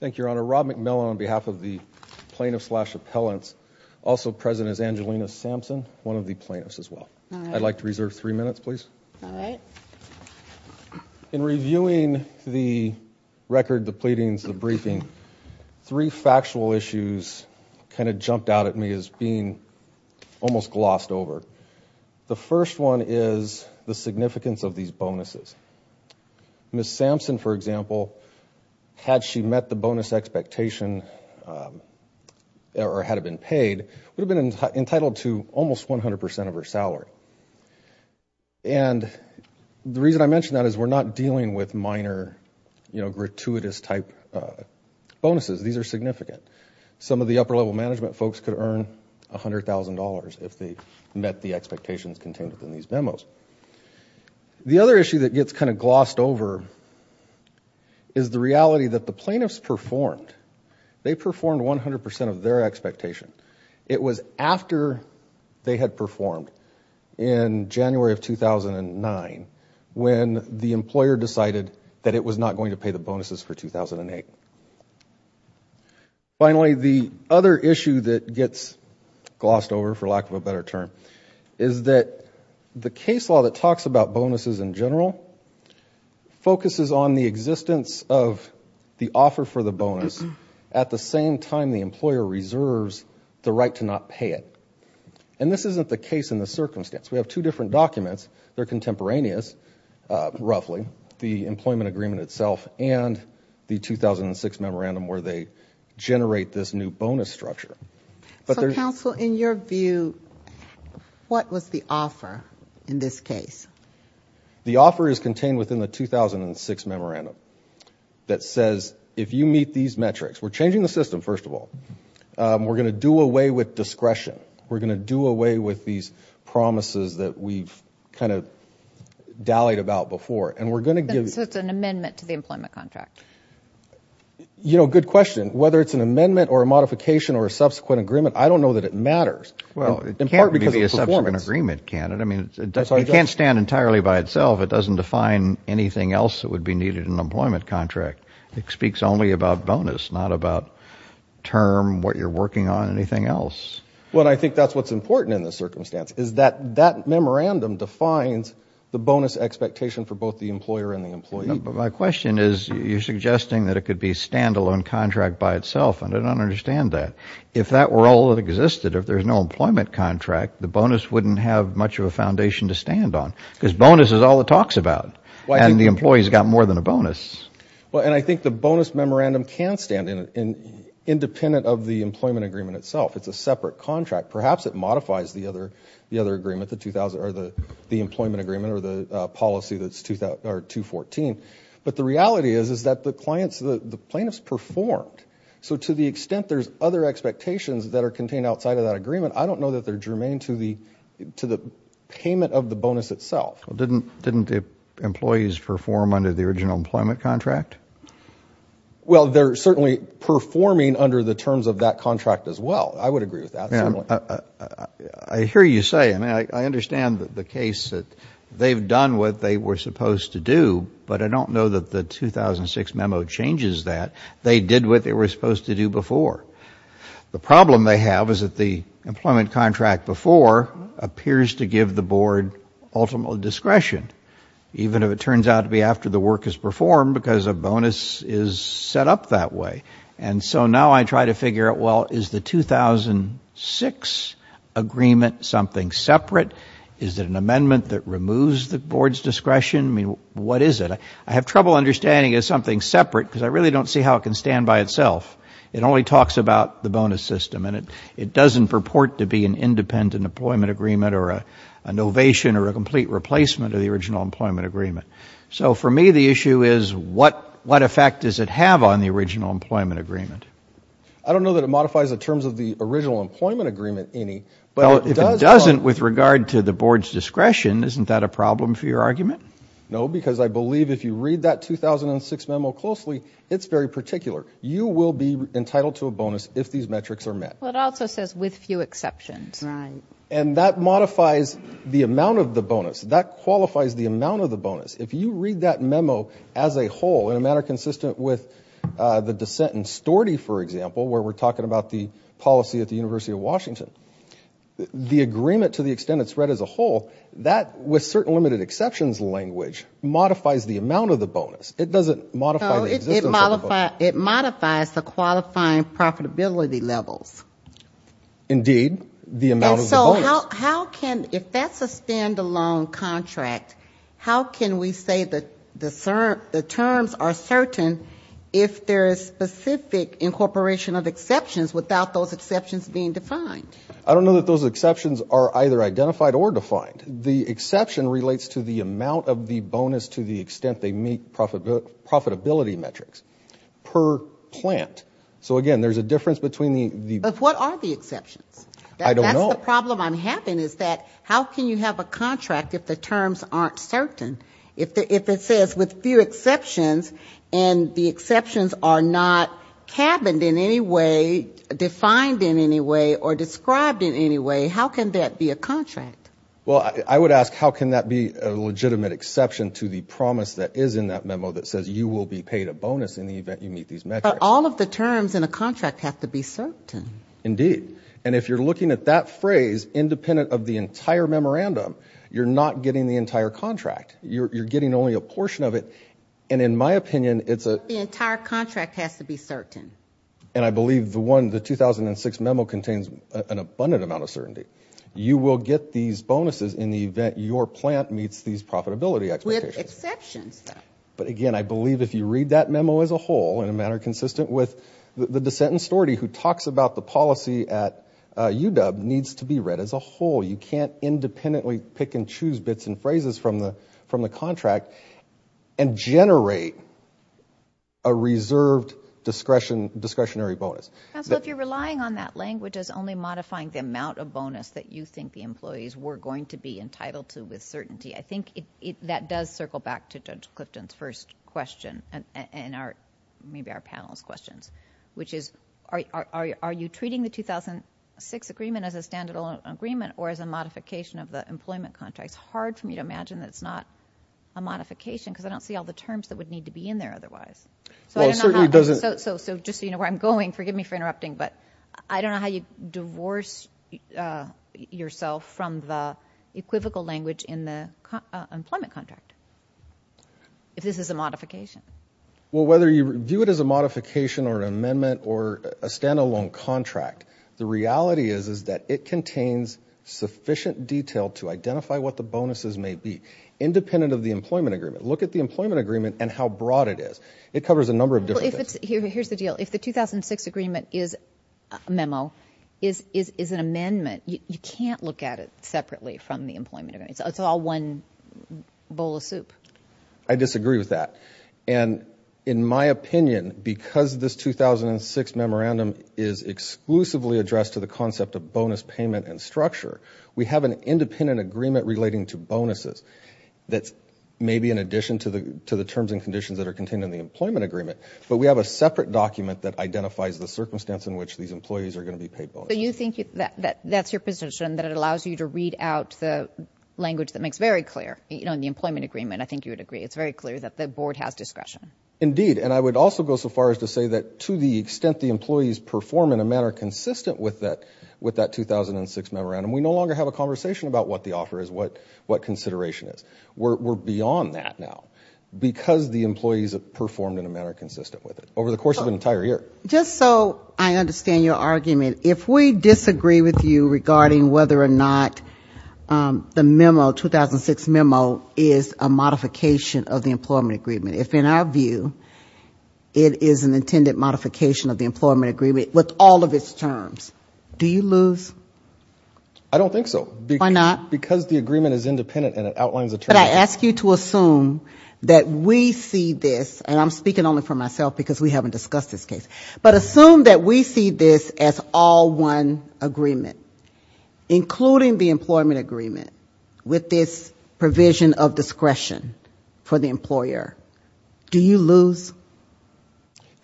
Thank you, Your Honor. Rob McMillan on behalf of the plaintiffs slash appellants, also present as Angelina Sampson, one of the plaintiffs as well. I'd like to reserve three minutes, please. Alright. In reviewing the record, the pleadings, the briefing, three factual issues kind of jumped out at me as being almost glossed over. The first one is the significance of these bonuses. Ms. Sampson, for example, had she met the bonus expectation or had it been paid, would have been entitled to almost 100% of her salary. And the reason I mention that is we're not dealing with minor, you know, gratuitous type bonuses. These are significant. Some of the upper-level management folks could earn $100,000 if they met the expectations contained within these memos. The other issue that gets kind of glossed over is the reality that the plaintiffs performed. They performed 100% of their expectation. It was after they had performed in January of 2009 when the employer decided that it was not going to pay the bonuses for 2008. Finally, the other issue that gets glossed over, for lack of a better term, is that the case law that talks about bonuses in general focuses on the existence of the offer for the bonus at the same time the employer reserves the right to not pay it. And this isn't the case in this circumstance. We have two different documents. They're contemporaneous, roughly, the employment agreement itself and the 2006 memorandum where they generate this new bonus structure. So, counsel, in your view, what was the offer in this case? The offer is contained within the 2006 memorandum that says if you meet these metrics, we're changing the system, first of all. We're going to do away with discretion. We're going to do away with these promises that we've kind of dallied about before. And we're going to give... So it's an amendment to the employment contract. You know, good question. Whether it's an amendment or a modification or a subsequent agreement, I don't know that it matters. Well, it can't be a subsequent agreement, can it? I mean, it can't stand entirely by itself. It doesn't define anything else that would be needed in an employment contract. It speaks only about bonus, not about term, what you're working on, anything else. Well, I think that's what's important in this circumstance is that that memorandum defines the bonus expectation for both the employer and the employee. My question is you're suggesting that it could be a stand-alone contract by itself. I don't understand that. If that were all that existed, if there's no employment contract, the bonus wouldn't have much of a foundation to stand on because bonus is all it talks about. And the employee's got more than a bonus. Well, and I think the bonus memorandum can stand independent of the employment agreement itself. It's a separate contract. Perhaps it modifies the employment agreement or the policy that's 214. But the reality is that the plaintiff's performed. So to the extent there's other expectations that are contained outside of that agreement, I don't know that they're germane to the payment of the bonus itself. Well, didn't the employees perform under the original employment contract? Well, they're certainly performing under the terms of that contract as well. I would agree with that. I hear you say. I mean, I understand the case that they've done what they were supposed to do, but I don't know that the 2006 memo changes that. They did what they were supposed to do before. The problem they have is that the employment contract before appears to give the board ultimate discretion, even if it turns out to be after the work is performed because a bonus is set up that way. And so now I try to figure out, well, is the 2006 agreement something separate? Is it an amendment that removes the board's discretion? I mean, what is it? I have trouble understanding it as something separate because I really don't see how it can stand by itself. It only talks about the bonus system, and it doesn't purport to be an independent employment agreement or an ovation or a complete replacement of the original employment agreement. So for me, the issue is what effect does it have on the original employment agreement? I don't know that it modifies the terms of the original employment agreement any, but it does. Well, if it doesn't with regard to the board's discretion, isn't that a problem for your argument? No, because I believe if you read that 2006 memo closely, it's very particular. You will be entitled to a bonus if these metrics are met. Well, it also says with few exceptions. Right. And that modifies the amount of the bonus. That qualifies the amount of the bonus. If you read that memo as a whole in a manner consistent with the dissent in Storty, for example, where we're talking about the policy at the University of Washington, the agreement to the extent it's read as a whole, that, with certain limited exceptions language, modifies the amount of the bonus. It doesn't modify the existence of the bonus. No, it modifies the qualifying profitability levels. Indeed, the amount of the bonus. How can, if that's a stand-alone contract, how can we say that the terms are certain if there is specific incorporation of exceptions without those exceptions being defined? I don't know that those exceptions are either identified or defined. The exception relates to the amount of the bonus to the extent they meet profitability metrics per plant. So, again, there's a difference between the- But what are the exceptions? I don't know. That's the problem I'm having is that how can you have a contract if the terms aren't certain? If it says with few exceptions and the exceptions are not cabined in any way, defined in any way, or described in any way, how can that be a contract? Well, I would ask how can that be a legitimate exception to the promise that is in that memo that says you will be paid a bonus in the event you meet these metrics. But all of the terms in a contract have to be certain. Indeed. And if you're looking at that phrase independent of the entire memorandum, you're not getting the entire contract. You're getting only a portion of it. And in my opinion, it's a- But the entire contract has to be certain. And I believe the 2006 memo contains an abundant amount of certainty. You will get these bonuses in the event your plant meets these profitability expectations. With exceptions, though. But, again, I believe if you read that memo as a whole, in a manner consistent with the dissent in Storti, who talks about the policy at UW, needs to be read as a whole. You can't independently pick and choose bits and phrases from the contract and generate a reserved discretionary bonus. Counsel, if you're relying on that language as only modifying the amount of bonus that you think the employees were going to be entitled to with certainty, I think that does circle back to Judge Clifton's first question and maybe our panel's questions, which is are you treating the 2006 agreement as a standard agreement or as a modification of the employment contract? It's hard for me to imagine that it's not a modification because I don't see all the terms that would need to be in there otherwise. Well, it certainly doesn't- So just so you know where I'm going, forgive me for interrupting, but I don't know how you divorce yourself from the equivocal language in the employment contract if this is a modification. Well, whether you view it as a modification or an amendment or a standalone contract, the reality is that it contains sufficient detail to identify what the bonuses may be independent of the employment agreement. Look at the employment agreement and how broad it is. It covers a number of different things. Here's the deal. If the 2006 agreement is a memo, is an amendment, you can't look at it separately from the employment agreement. It's all one bowl of soup. I disagree with that. And in my opinion, because this 2006 memorandum is exclusively addressed to the concept of bonus payment and structure, we have an independent agreement relating to bonuses that's maybe in addition to the terms and conditions that are contained in the employment agreement, but we have a separate document that identifies the circumstance in which these employees are going to be paid bonuses. So you think that's your position, that it allows you to read out the language that makes very clear. In the employment agreement, I think you would agree. It's very clear that the board has discretion. Indeed, and I would also go so far as to say that to the extent the employees perform in a manner consistent with that 2006 memorandum, we no longer have a conversation about what the offer is, what consideration is. We're beyond that now because the employees have performed in a manner consistent with it over the course of an entire year. Just so I understand your argument, if we disagree with you regarding whether or not the memo, 2006 memo, is a modification of the employment agreement, if in our view it is an intended modification of the employment agreement with all of its terms, do you lose? I don't think so. Why not? Because the agreement is independent and it outlines a term. But I ask you to assume that we see this, and I'm speaking only for myself because we haven't discussed this case, but assume that we see this as all one agreement, including the employment agreement, with this provision of discretion for the employer. Do you lose?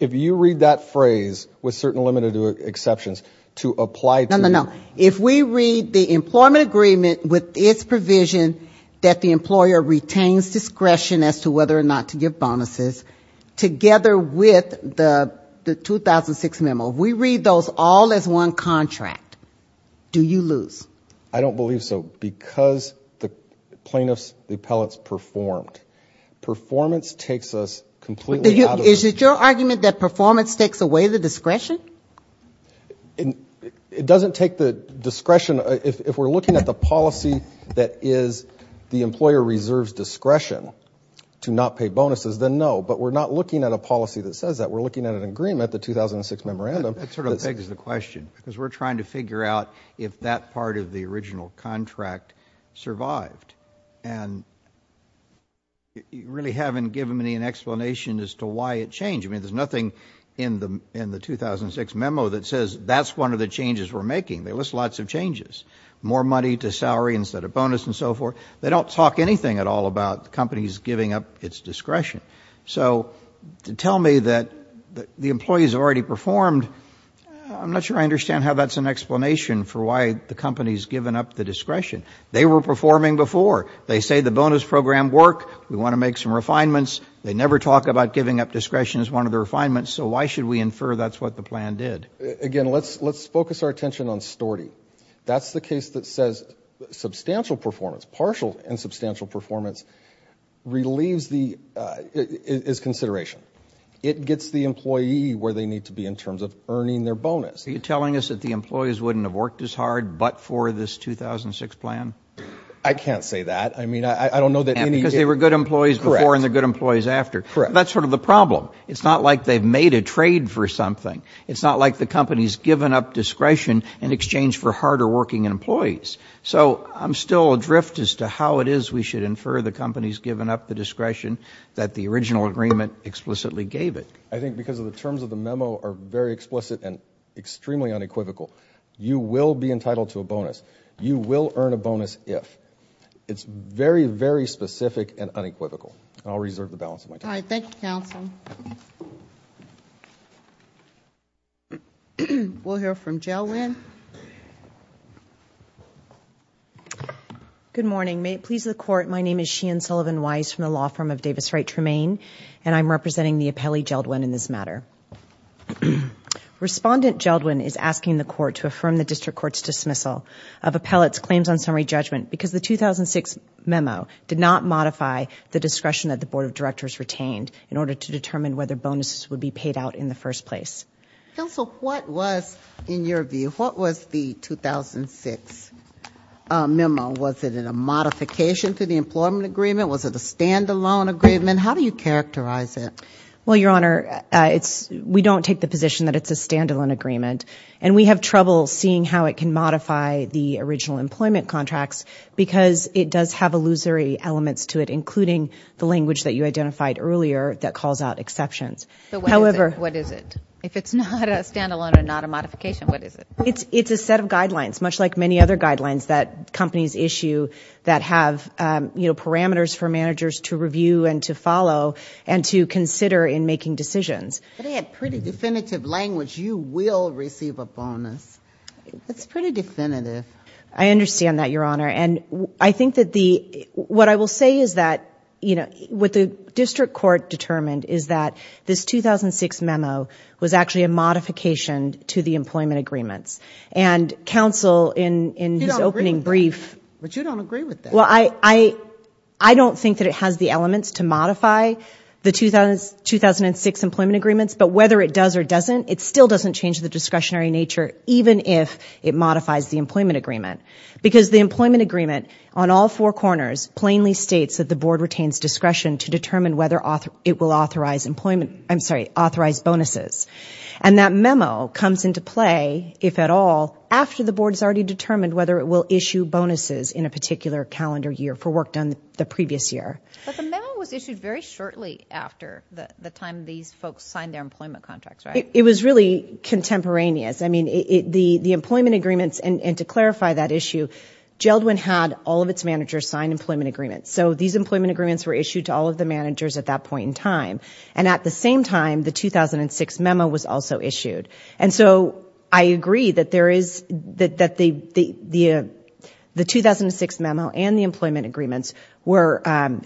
If you read that phrase, with certain limited exceptions, to apply to the... No, no, no. If we read the employment agreement with its provision that the employer retains discretion as to whether or not to give bonuses, together with the 2006 memo, if we read those all as one contract, do you lose? I don't believe so. Because the plaintiffs, the appellants, performed. Performance takes us completely out of the... Is it your argument that performance takes away the discretion? It doesn't take the discretion. If we're looking at the policy that is the employer reserves discretion to not pay bonuses, then no. But we're not looking at a policy that says that. We're looking at an agreement, the 2006 memorandum... That sort of begs the question, because we're trying to figure out if that part of the original contract survived. And you really haven't given me an explanation as to why it changed. I mean, there's nothing in the 2006 memo that says that's one of the changes we're making. They list lots of changes. More money to salary instead of bonus and so forth. They don't talk anything at all about companies giving up its discretion. So to tell me that the employees have already performed, I'm not sure I understand how that's an explanation for why the company's given up the discretion. They were performing before. They say the bonus program worked. We want to make some refinements. They never talk about giving up discretion as one of the refinements. So why should we infer that's what the plan did? Again, let's focus our attention on STORTY. That's the case that says substantial performance, partial and substantial performance, relieves the... is consideration. It gets the employee where they need to be in terms of earning their bonus. Are you telling us that the employees wouldn't have worked as hard but for this 2006 plan? I can't say that. I mean, I don't know that any... Because they were good employees before and they're good employees after. Correct. That's sort of the problem. It's not like they've made a trade for something. It's not like the company's given up discretion in exchange for harder working employees. So I'm still adrift as to how it is we should infer the company's given up the discretion that the original agreement explicitly gave it. I think because of the terms of the memo are very explicit and extremely unequivocal. You will be entitled to a bonus. You will earn a bonus if. It's very, very specific and unequivocal. I'll reserve the balance of my time. All right. Thank you, counsel. We'll hear from Jeldwin. Good morning. May it please the court, my name is Sheehan Sullivan-Weiss from the law firm of Davis Wright Tremaine and I'm representing the appellee, Jeldwin, in this matter. Respondent Jeldwin is asking the court to affirm the district court's dismissal of appellate's claims on summary judgment because the 2006 memo did not modify the discretion that the board of directors retained in order to determine whether bonuses would be paid out in the first place. Counsel, what was, in your view, what was the 2006 memo? Was it a modification to the employment agreement? Was it a standalone agreement? How do you characterize it? Well, your honor, we don't take the position that it's a standalone agreement and we have trouble seeing how it can modify the original employment contracts because it does have illusory elements to it, including the language that you identified earlier that calls out exceptions. But what is it? If it's not a standalone and not a modification, what is it? It's a set of guidelines, much like many other guidelines that companies issue that have parameters for managers to review and to follow and to consider in making decisions. But it had pretty definitive language, you will receive a bonus. It's pretty definitive. I understand that, your honor. And I think that the, what I will say is that, you know, what the district court determined is that this 2006 memo was actually a modification to the employment agreements. And counsel, in his opening brief. But you don't agree with that. Well, I don't think that it has the elements to modify the 2006 employment agreements, but whether it does or doesn't, it still doesn't change the discretionary nature, even if it modifies the employment agreement. Because the employment agreement on all four corners plainly states that the board retains discretion to determine whether it will authorize bonuses. And that memo comes into play, if at all, after the board has already determined whether it will issue bonuses in a particular calendar year for work done the previous year. But the memo was issued very shortly after the time these folks signed their employment contracts, right? It was really contemporaneous. I mean, the employment agreements, and to clarify that issue, Geldwin had all of its managers sign employment agreements. So these employment agreements were issued to all of the managers at that point in time. And at the same time, the 2006 memo was also issued. And so I agree that there is, that the 2006 memo and the employment agreements were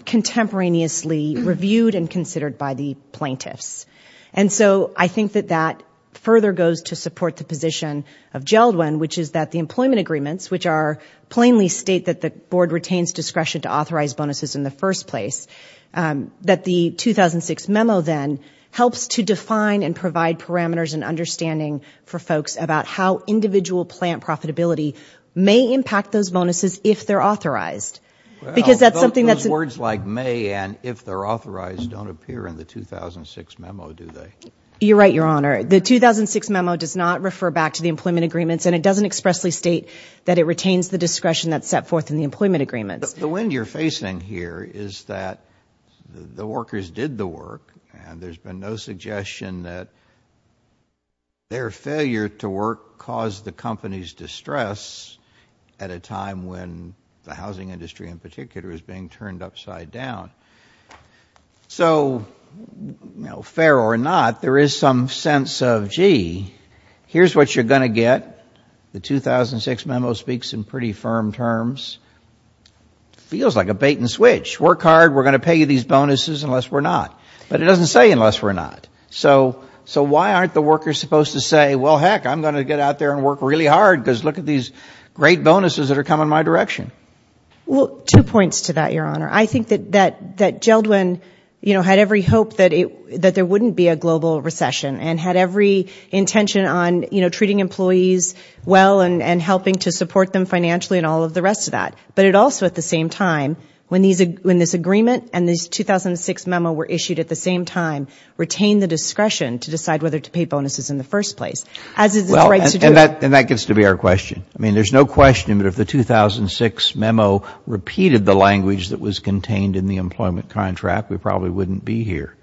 contemporaneously reviewed and considered by the plaintiffs. And so I think that that further goes to support the position of Geldwin, which is that the employment agreements, which are plainly state that the board retains discretion to authorize bonuses in the first place, that the 2006 memo then helps to define and provide parameters and understanding for folks about how individual plant profitability may impact those bonuses if they're authorized. Well, those words like may and if they're authorized don't appear in the 2006 memo, do they? You're right, Your Honor. The 2006 memo does not refer back to the employment agreements, and it doesn't expressly state that it retains the discretion that's set forth in the employment agreements. The wind you're facing here is that the workers did the work, and there's been no suggestion that their failure to work caused the company's distress at a time when the housing industry in particular is being turned upside down. So, you know, fair or not, there is some sense of, gee, here's what you're going to get. The 2006 memo speaks in pretty firm terms. It feels like a bait and switch. Work hard, we're going to pay you these bonuses unless we're not. But it doesn't say unless we're not. So why aren't the workers supposed to say, well, heck, I'm going to get out there and work really hard because look at these great bonuses that are coming my direction. Well, two points to that, Your Honor. I think that Geldwin, you know, had every hope that there wouldn't be a global recession and had every intention on, you know, treating employees well and helping to support them financially and all of the rest of that. But it also, at the same time, when this agreement and this 2006 memo were issued at the same time, retained the discretion to decide whether to pay bonuses in the first place, as is its right to do. And that gets to be our question. I mean, there's no question that if the 2006 memo repeated the language that was contained in the employment contract, we probably wouldn't be here.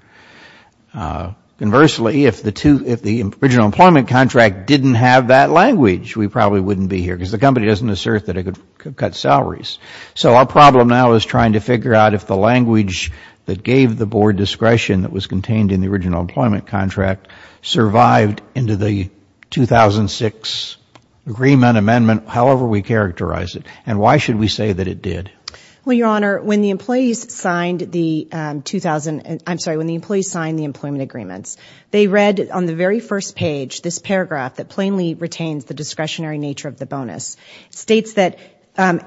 Conversely, if the original employment contract didn't have that language, we probably wouldn't be here because the company doesn't assert that it could cut salaries. So our problem now is trying to figure out if the language that gave the board discretion that was contained in the original employment contract survived into the 2006 agreement amendment, however we characterize it. And why should we say that it did? Well, Your Honor, when the employees signed the employment agreements, they read on the very first page this paragraph that plainly retains the discretionary nature of the bonus. It states that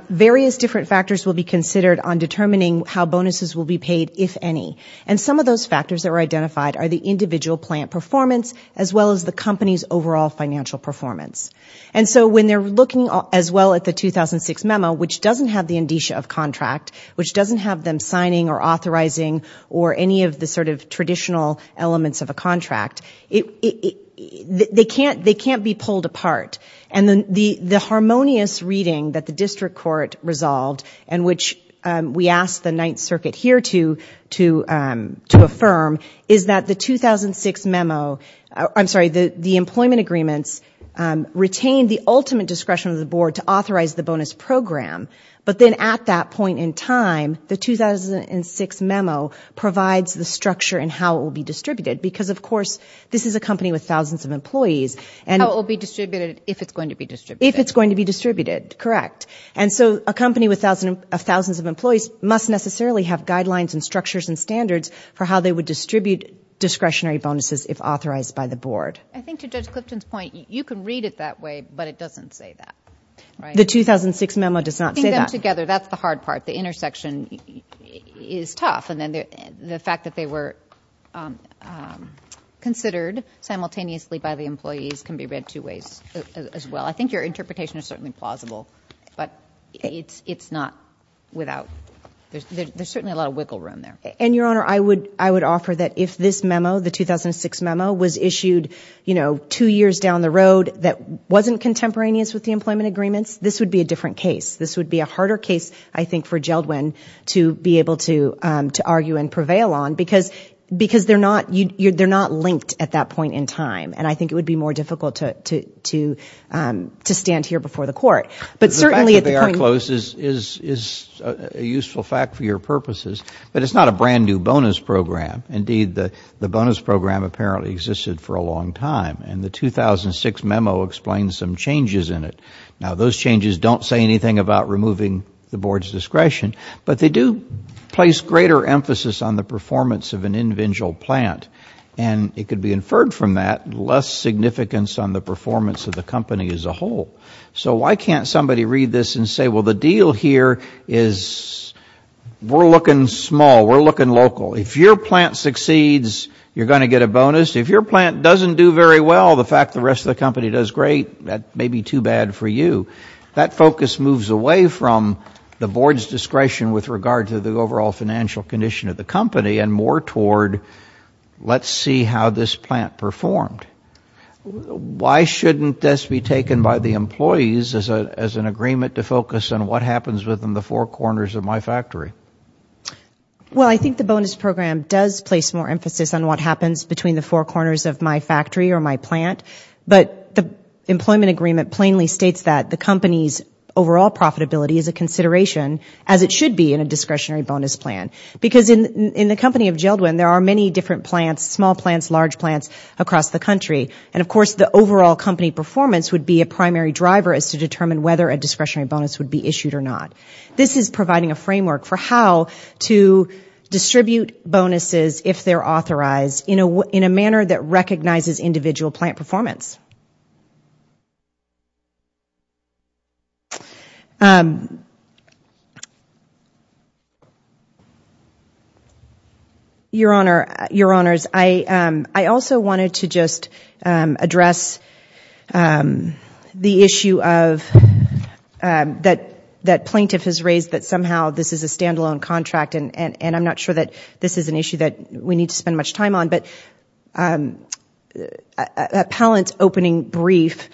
various different factors will be considered on determining how bonuses will be paid, if any. And some of those factors that were identified are the individual plant performance as well as the company's overall financial performance. And so when they're looking as well at the 2006 memo, which doesn't have the indicia of contract, which doesn't have them signing or authorizing or any of the sort of traditional elements of a contract, they can't be pulled apart. And the harmonious reading that the district court resolved and which we asked the Ninth Circuit here to affirm is that the 2006 memo, I'm sorry, the employment agreements retained the ultimate discretion of the board to authorize the bonus program. But then at that point in time, the 2006 memo provides the structure and how it will be distributed, because, of course, this is a company with thousands of employees. How it will be distributed if it's going to be distributed. If it's going to be distributed, correct. And so a company with thousands of employees must necessarily have guidelines and structures and standards for how they would distribute discretionary bonuses if authorized by the board. I think to Judge Clifton's point, you can read it that way, but it doesn't say that. The 2006 memo does not say that. Putting them together, that's the hard part. The intersection is tough. And then the fact that they were considered simultaneously by the employees can be read two ways as well. I think your interpretation is certainly plausible, but it's not without, there's certainly a lot of wiggle room there. And, Your Honor, I would offer that if this memo, the 2006 memo, was issued, you know, two years down the road that wasn't contemporaneous with the employment agreements, this would be a different case. This would be a harder case, I think, for Geldwin to be able to argue and prevail on, because they're not linked at that point in time. And I think it would be more difficult to stand here before the court. But certainly at the point ñ The fact that they are close is a useful fact for your purposes. But it's not a brand-new bonus program. Indeed, the bonus program apparently existed for a long time. And the 2006 memo explains some changes in it. Now, those changes don't say anything about removing the board's discretion, but they do place greater emphasis on the performance of an individual plant. And it could be inferred from that less significance on the performance of the company as a whole. So why can't somebody read this and say, well, the deal here is we're looking small, we're looking local. If your plant succeeds, you're going to get a bonus. If your plant doesn't do very well, the fact the rest of the company does great, that may be too bad for you. That focus moves away from the board's discretion with regard to the overall financial condition of the company and more toward let's see how this plant performed. Why shouldn't this be taken by the employees as an agreement to focus on what happens within the four corners of my factory? Well, I think the bonus program does place more emphasis on what happens between the four corners of my factory or my plant. But the employment agreement plainly states that the company's overall profitability is a consideration, as it should be in a discretionary bonus plan. Because in the company of Geldwin, there are many different plants, small plants, large plants across the country. And of course the overall company performance would be a primary driver as to determine whether a discretionary bonus would be issued or not. This is providing a framework for how to distribute bonuses if they're authorized in a manner that recognizes individual plant performance. Your Honor, I also wanted to just address the issue that plaintiff has raised that somehow this is a standalone contract and I'm not sure that this is an issue that we need to spend much time on. But appellant's opening brief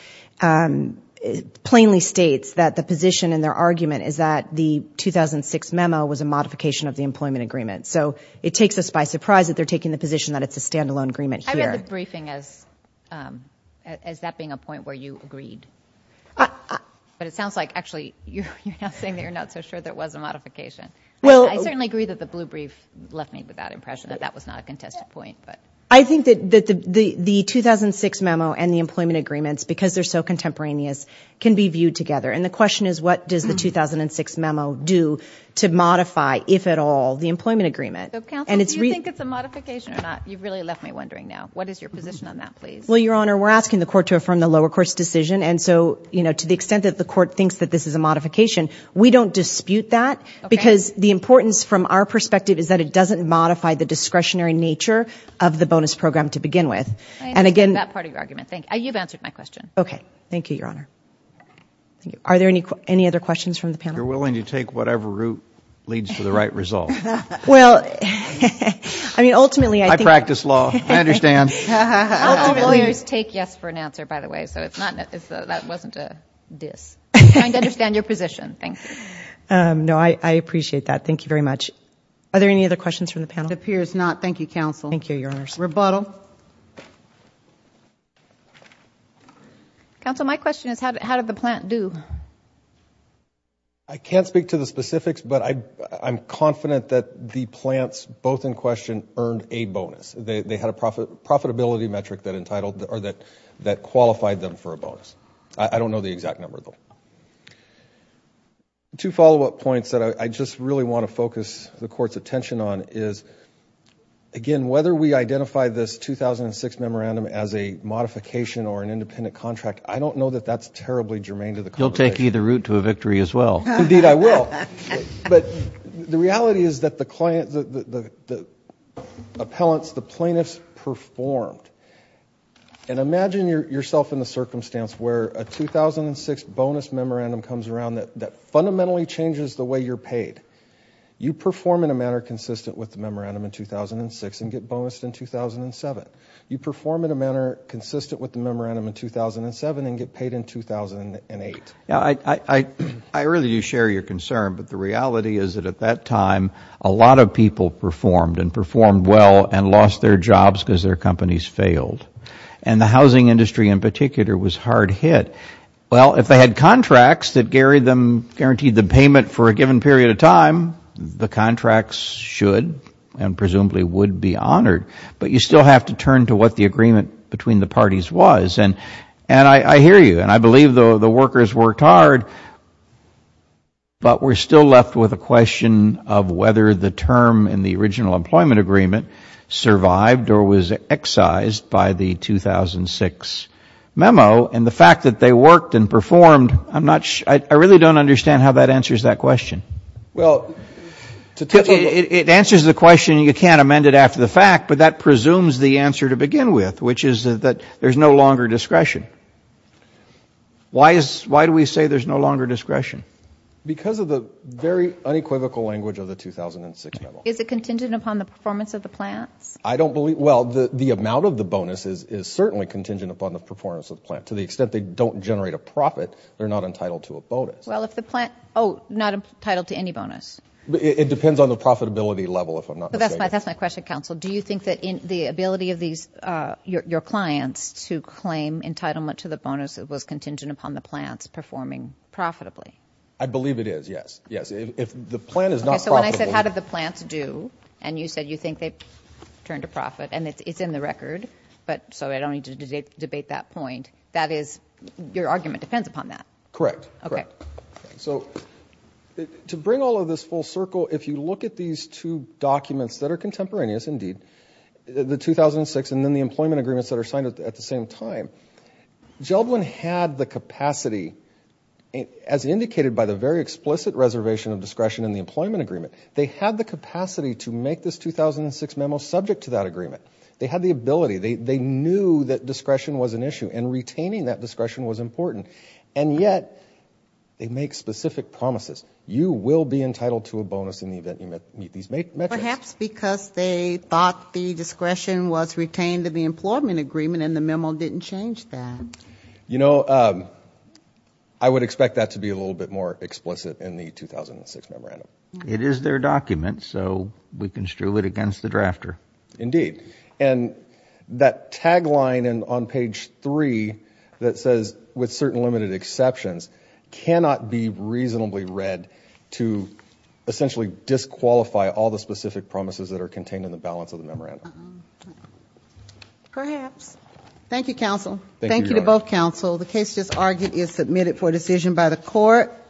plainly states that the position in their argument is that the 2006 memo was a modification of the employment agreement. So it takes us by surprise that they're taking the position that it's a standalone agreement here. I read the briefing as that being a point where you agreed. But it sounds like actually you're now saying that you're not so sure that it was a modification. I certainly agree that the blue brief left me with that impression that that was not a contested point. I think that the 2006 memo and the employment agreements, because they're so contemporaneous, can be viewed together. And the question is what does the 2006 memo do to modify, if at all, the employment agreement? Counsel, do you think it's a modification or not? You've really left me wondering now. What is your position on that, please? Well, Your Honor, we're asking the court to affirm the lower court's decision. And so to the extent that the court thinks that this is a modification, we don't dispute that because the importance from our perspective is that it doesn't modify the discretionary nature of the bonus program to begin with. I understand that part of your argument. Thank you. You've answered my question. Okay. Thank you, Your Honor. Thank you. Are there any other questions from the panel? If you're willing to take whatever route leads to the right result. Well, I mean, ultimately I think... I practice law. I understand. All lawyers take yes for an answer, by the way. So that wasn't a diss. I understand your position. Thank you. No, I appreciate that. Thank you very much. Are there any other questions from the panel? It appears not. Thank you, Counsel. Thank you, Your Honor. Rebuttal. Counsel, my question is how did the plant do? I can't speak to the specifics, but I'm confident that the plants both in question earned a bonus. They had a profitability metric that qualified them for a bonus. I don't know the exact number, though. Two follow-up points that I just really want to focus the court's attention on is, again, whether we identify this 2006 memorandum as a modification or an independent contract, I don't know that that's terribly germane to the conversation. You'll take either route to a victory as well. Indeed I will. But the reality is that the client, the appellants, the plaintiffs performed. And imagine yourself in the circumstance where a 2006 bonus memorandum comes around that fundamentally changes the way you're paid. You perform in a manner consistent with the memorandum in 2006 and get bonused in 2007. You perform in a manner consistent with the memorandum in 2007 and get paid in 2008. I really do share your concern, but the reality is that at that time a lot of people performed and performed well and lost their jobs because their companies failed. And the housing industry in particular was hard hit. Well, if they had contracts that guaranteed the payment for a given period of time, the contracts should and presumably would be honored. But you still have to turn to what the agreement between the parties was. And I hear you, and I believe the workers worked hard, but we're still left with a question of whether the term in the original employment agreement survived or was excised by the 2006 memo. And the fact that they worked and performed, I really don't understand how that answers that question. It answers the question, and you can't amend it after the fact, but that presumes the answer to begin with, which is that there's no longer discretion. Why do we say there's no longer discretion? Because of the very unequivocal language of the 2006 memo. Is it contingent upon the performance of the plants? Well, the amount of the bonus is certainly contingent upon the performance of the plant. To the extent they don't generate a profit, they're not entitled to a bonus. Well, if the plant—oh, not entitled to any bonus. It depends on the profitability level, if I'm not mistaken. That's my question, counsel. Do you think that the ability of your clients to claim entitlement to the bonus was contingent upon the plants performing profitably? I believe it is, yes. If the plant is not profitable— And it's in the record, so I don't need to debate that point. That is, your argument depends upon that. Correct. Okay. So to bring all of this full circle, if you look at these two documents that are contemporaneous, indeed, the 2006 and then the employment agreements that are signed at the same time, Gelblin had the capacity, as indicated by the very explicit reservation of discretion in the employment agreement, they had the capacity to make this 2006 memo subject to that agreement. They had the ability. They knew that discretion was an issue, and retaining that discretion was important. And yet they make specific promises. You will be entitled to a bonus in the event you meet these metrics. Perhaps because they thought the discretion was retained in the employment agreement and the memo didn't change that. You know, I would expect that to be a little bit more explicit in the 2006 memorandum. It is their document, so we can strew it against the drafter. Indeed. And that tagline on page 3 that says, with certain limited exceptions, cannot be reasonably read to essentially disqualify all the specific promises that are contained in the balance of the memorandum. Perhaps. Thank you, counsel. Thank you to both counsel. The case just argued is submitted for decision by the court.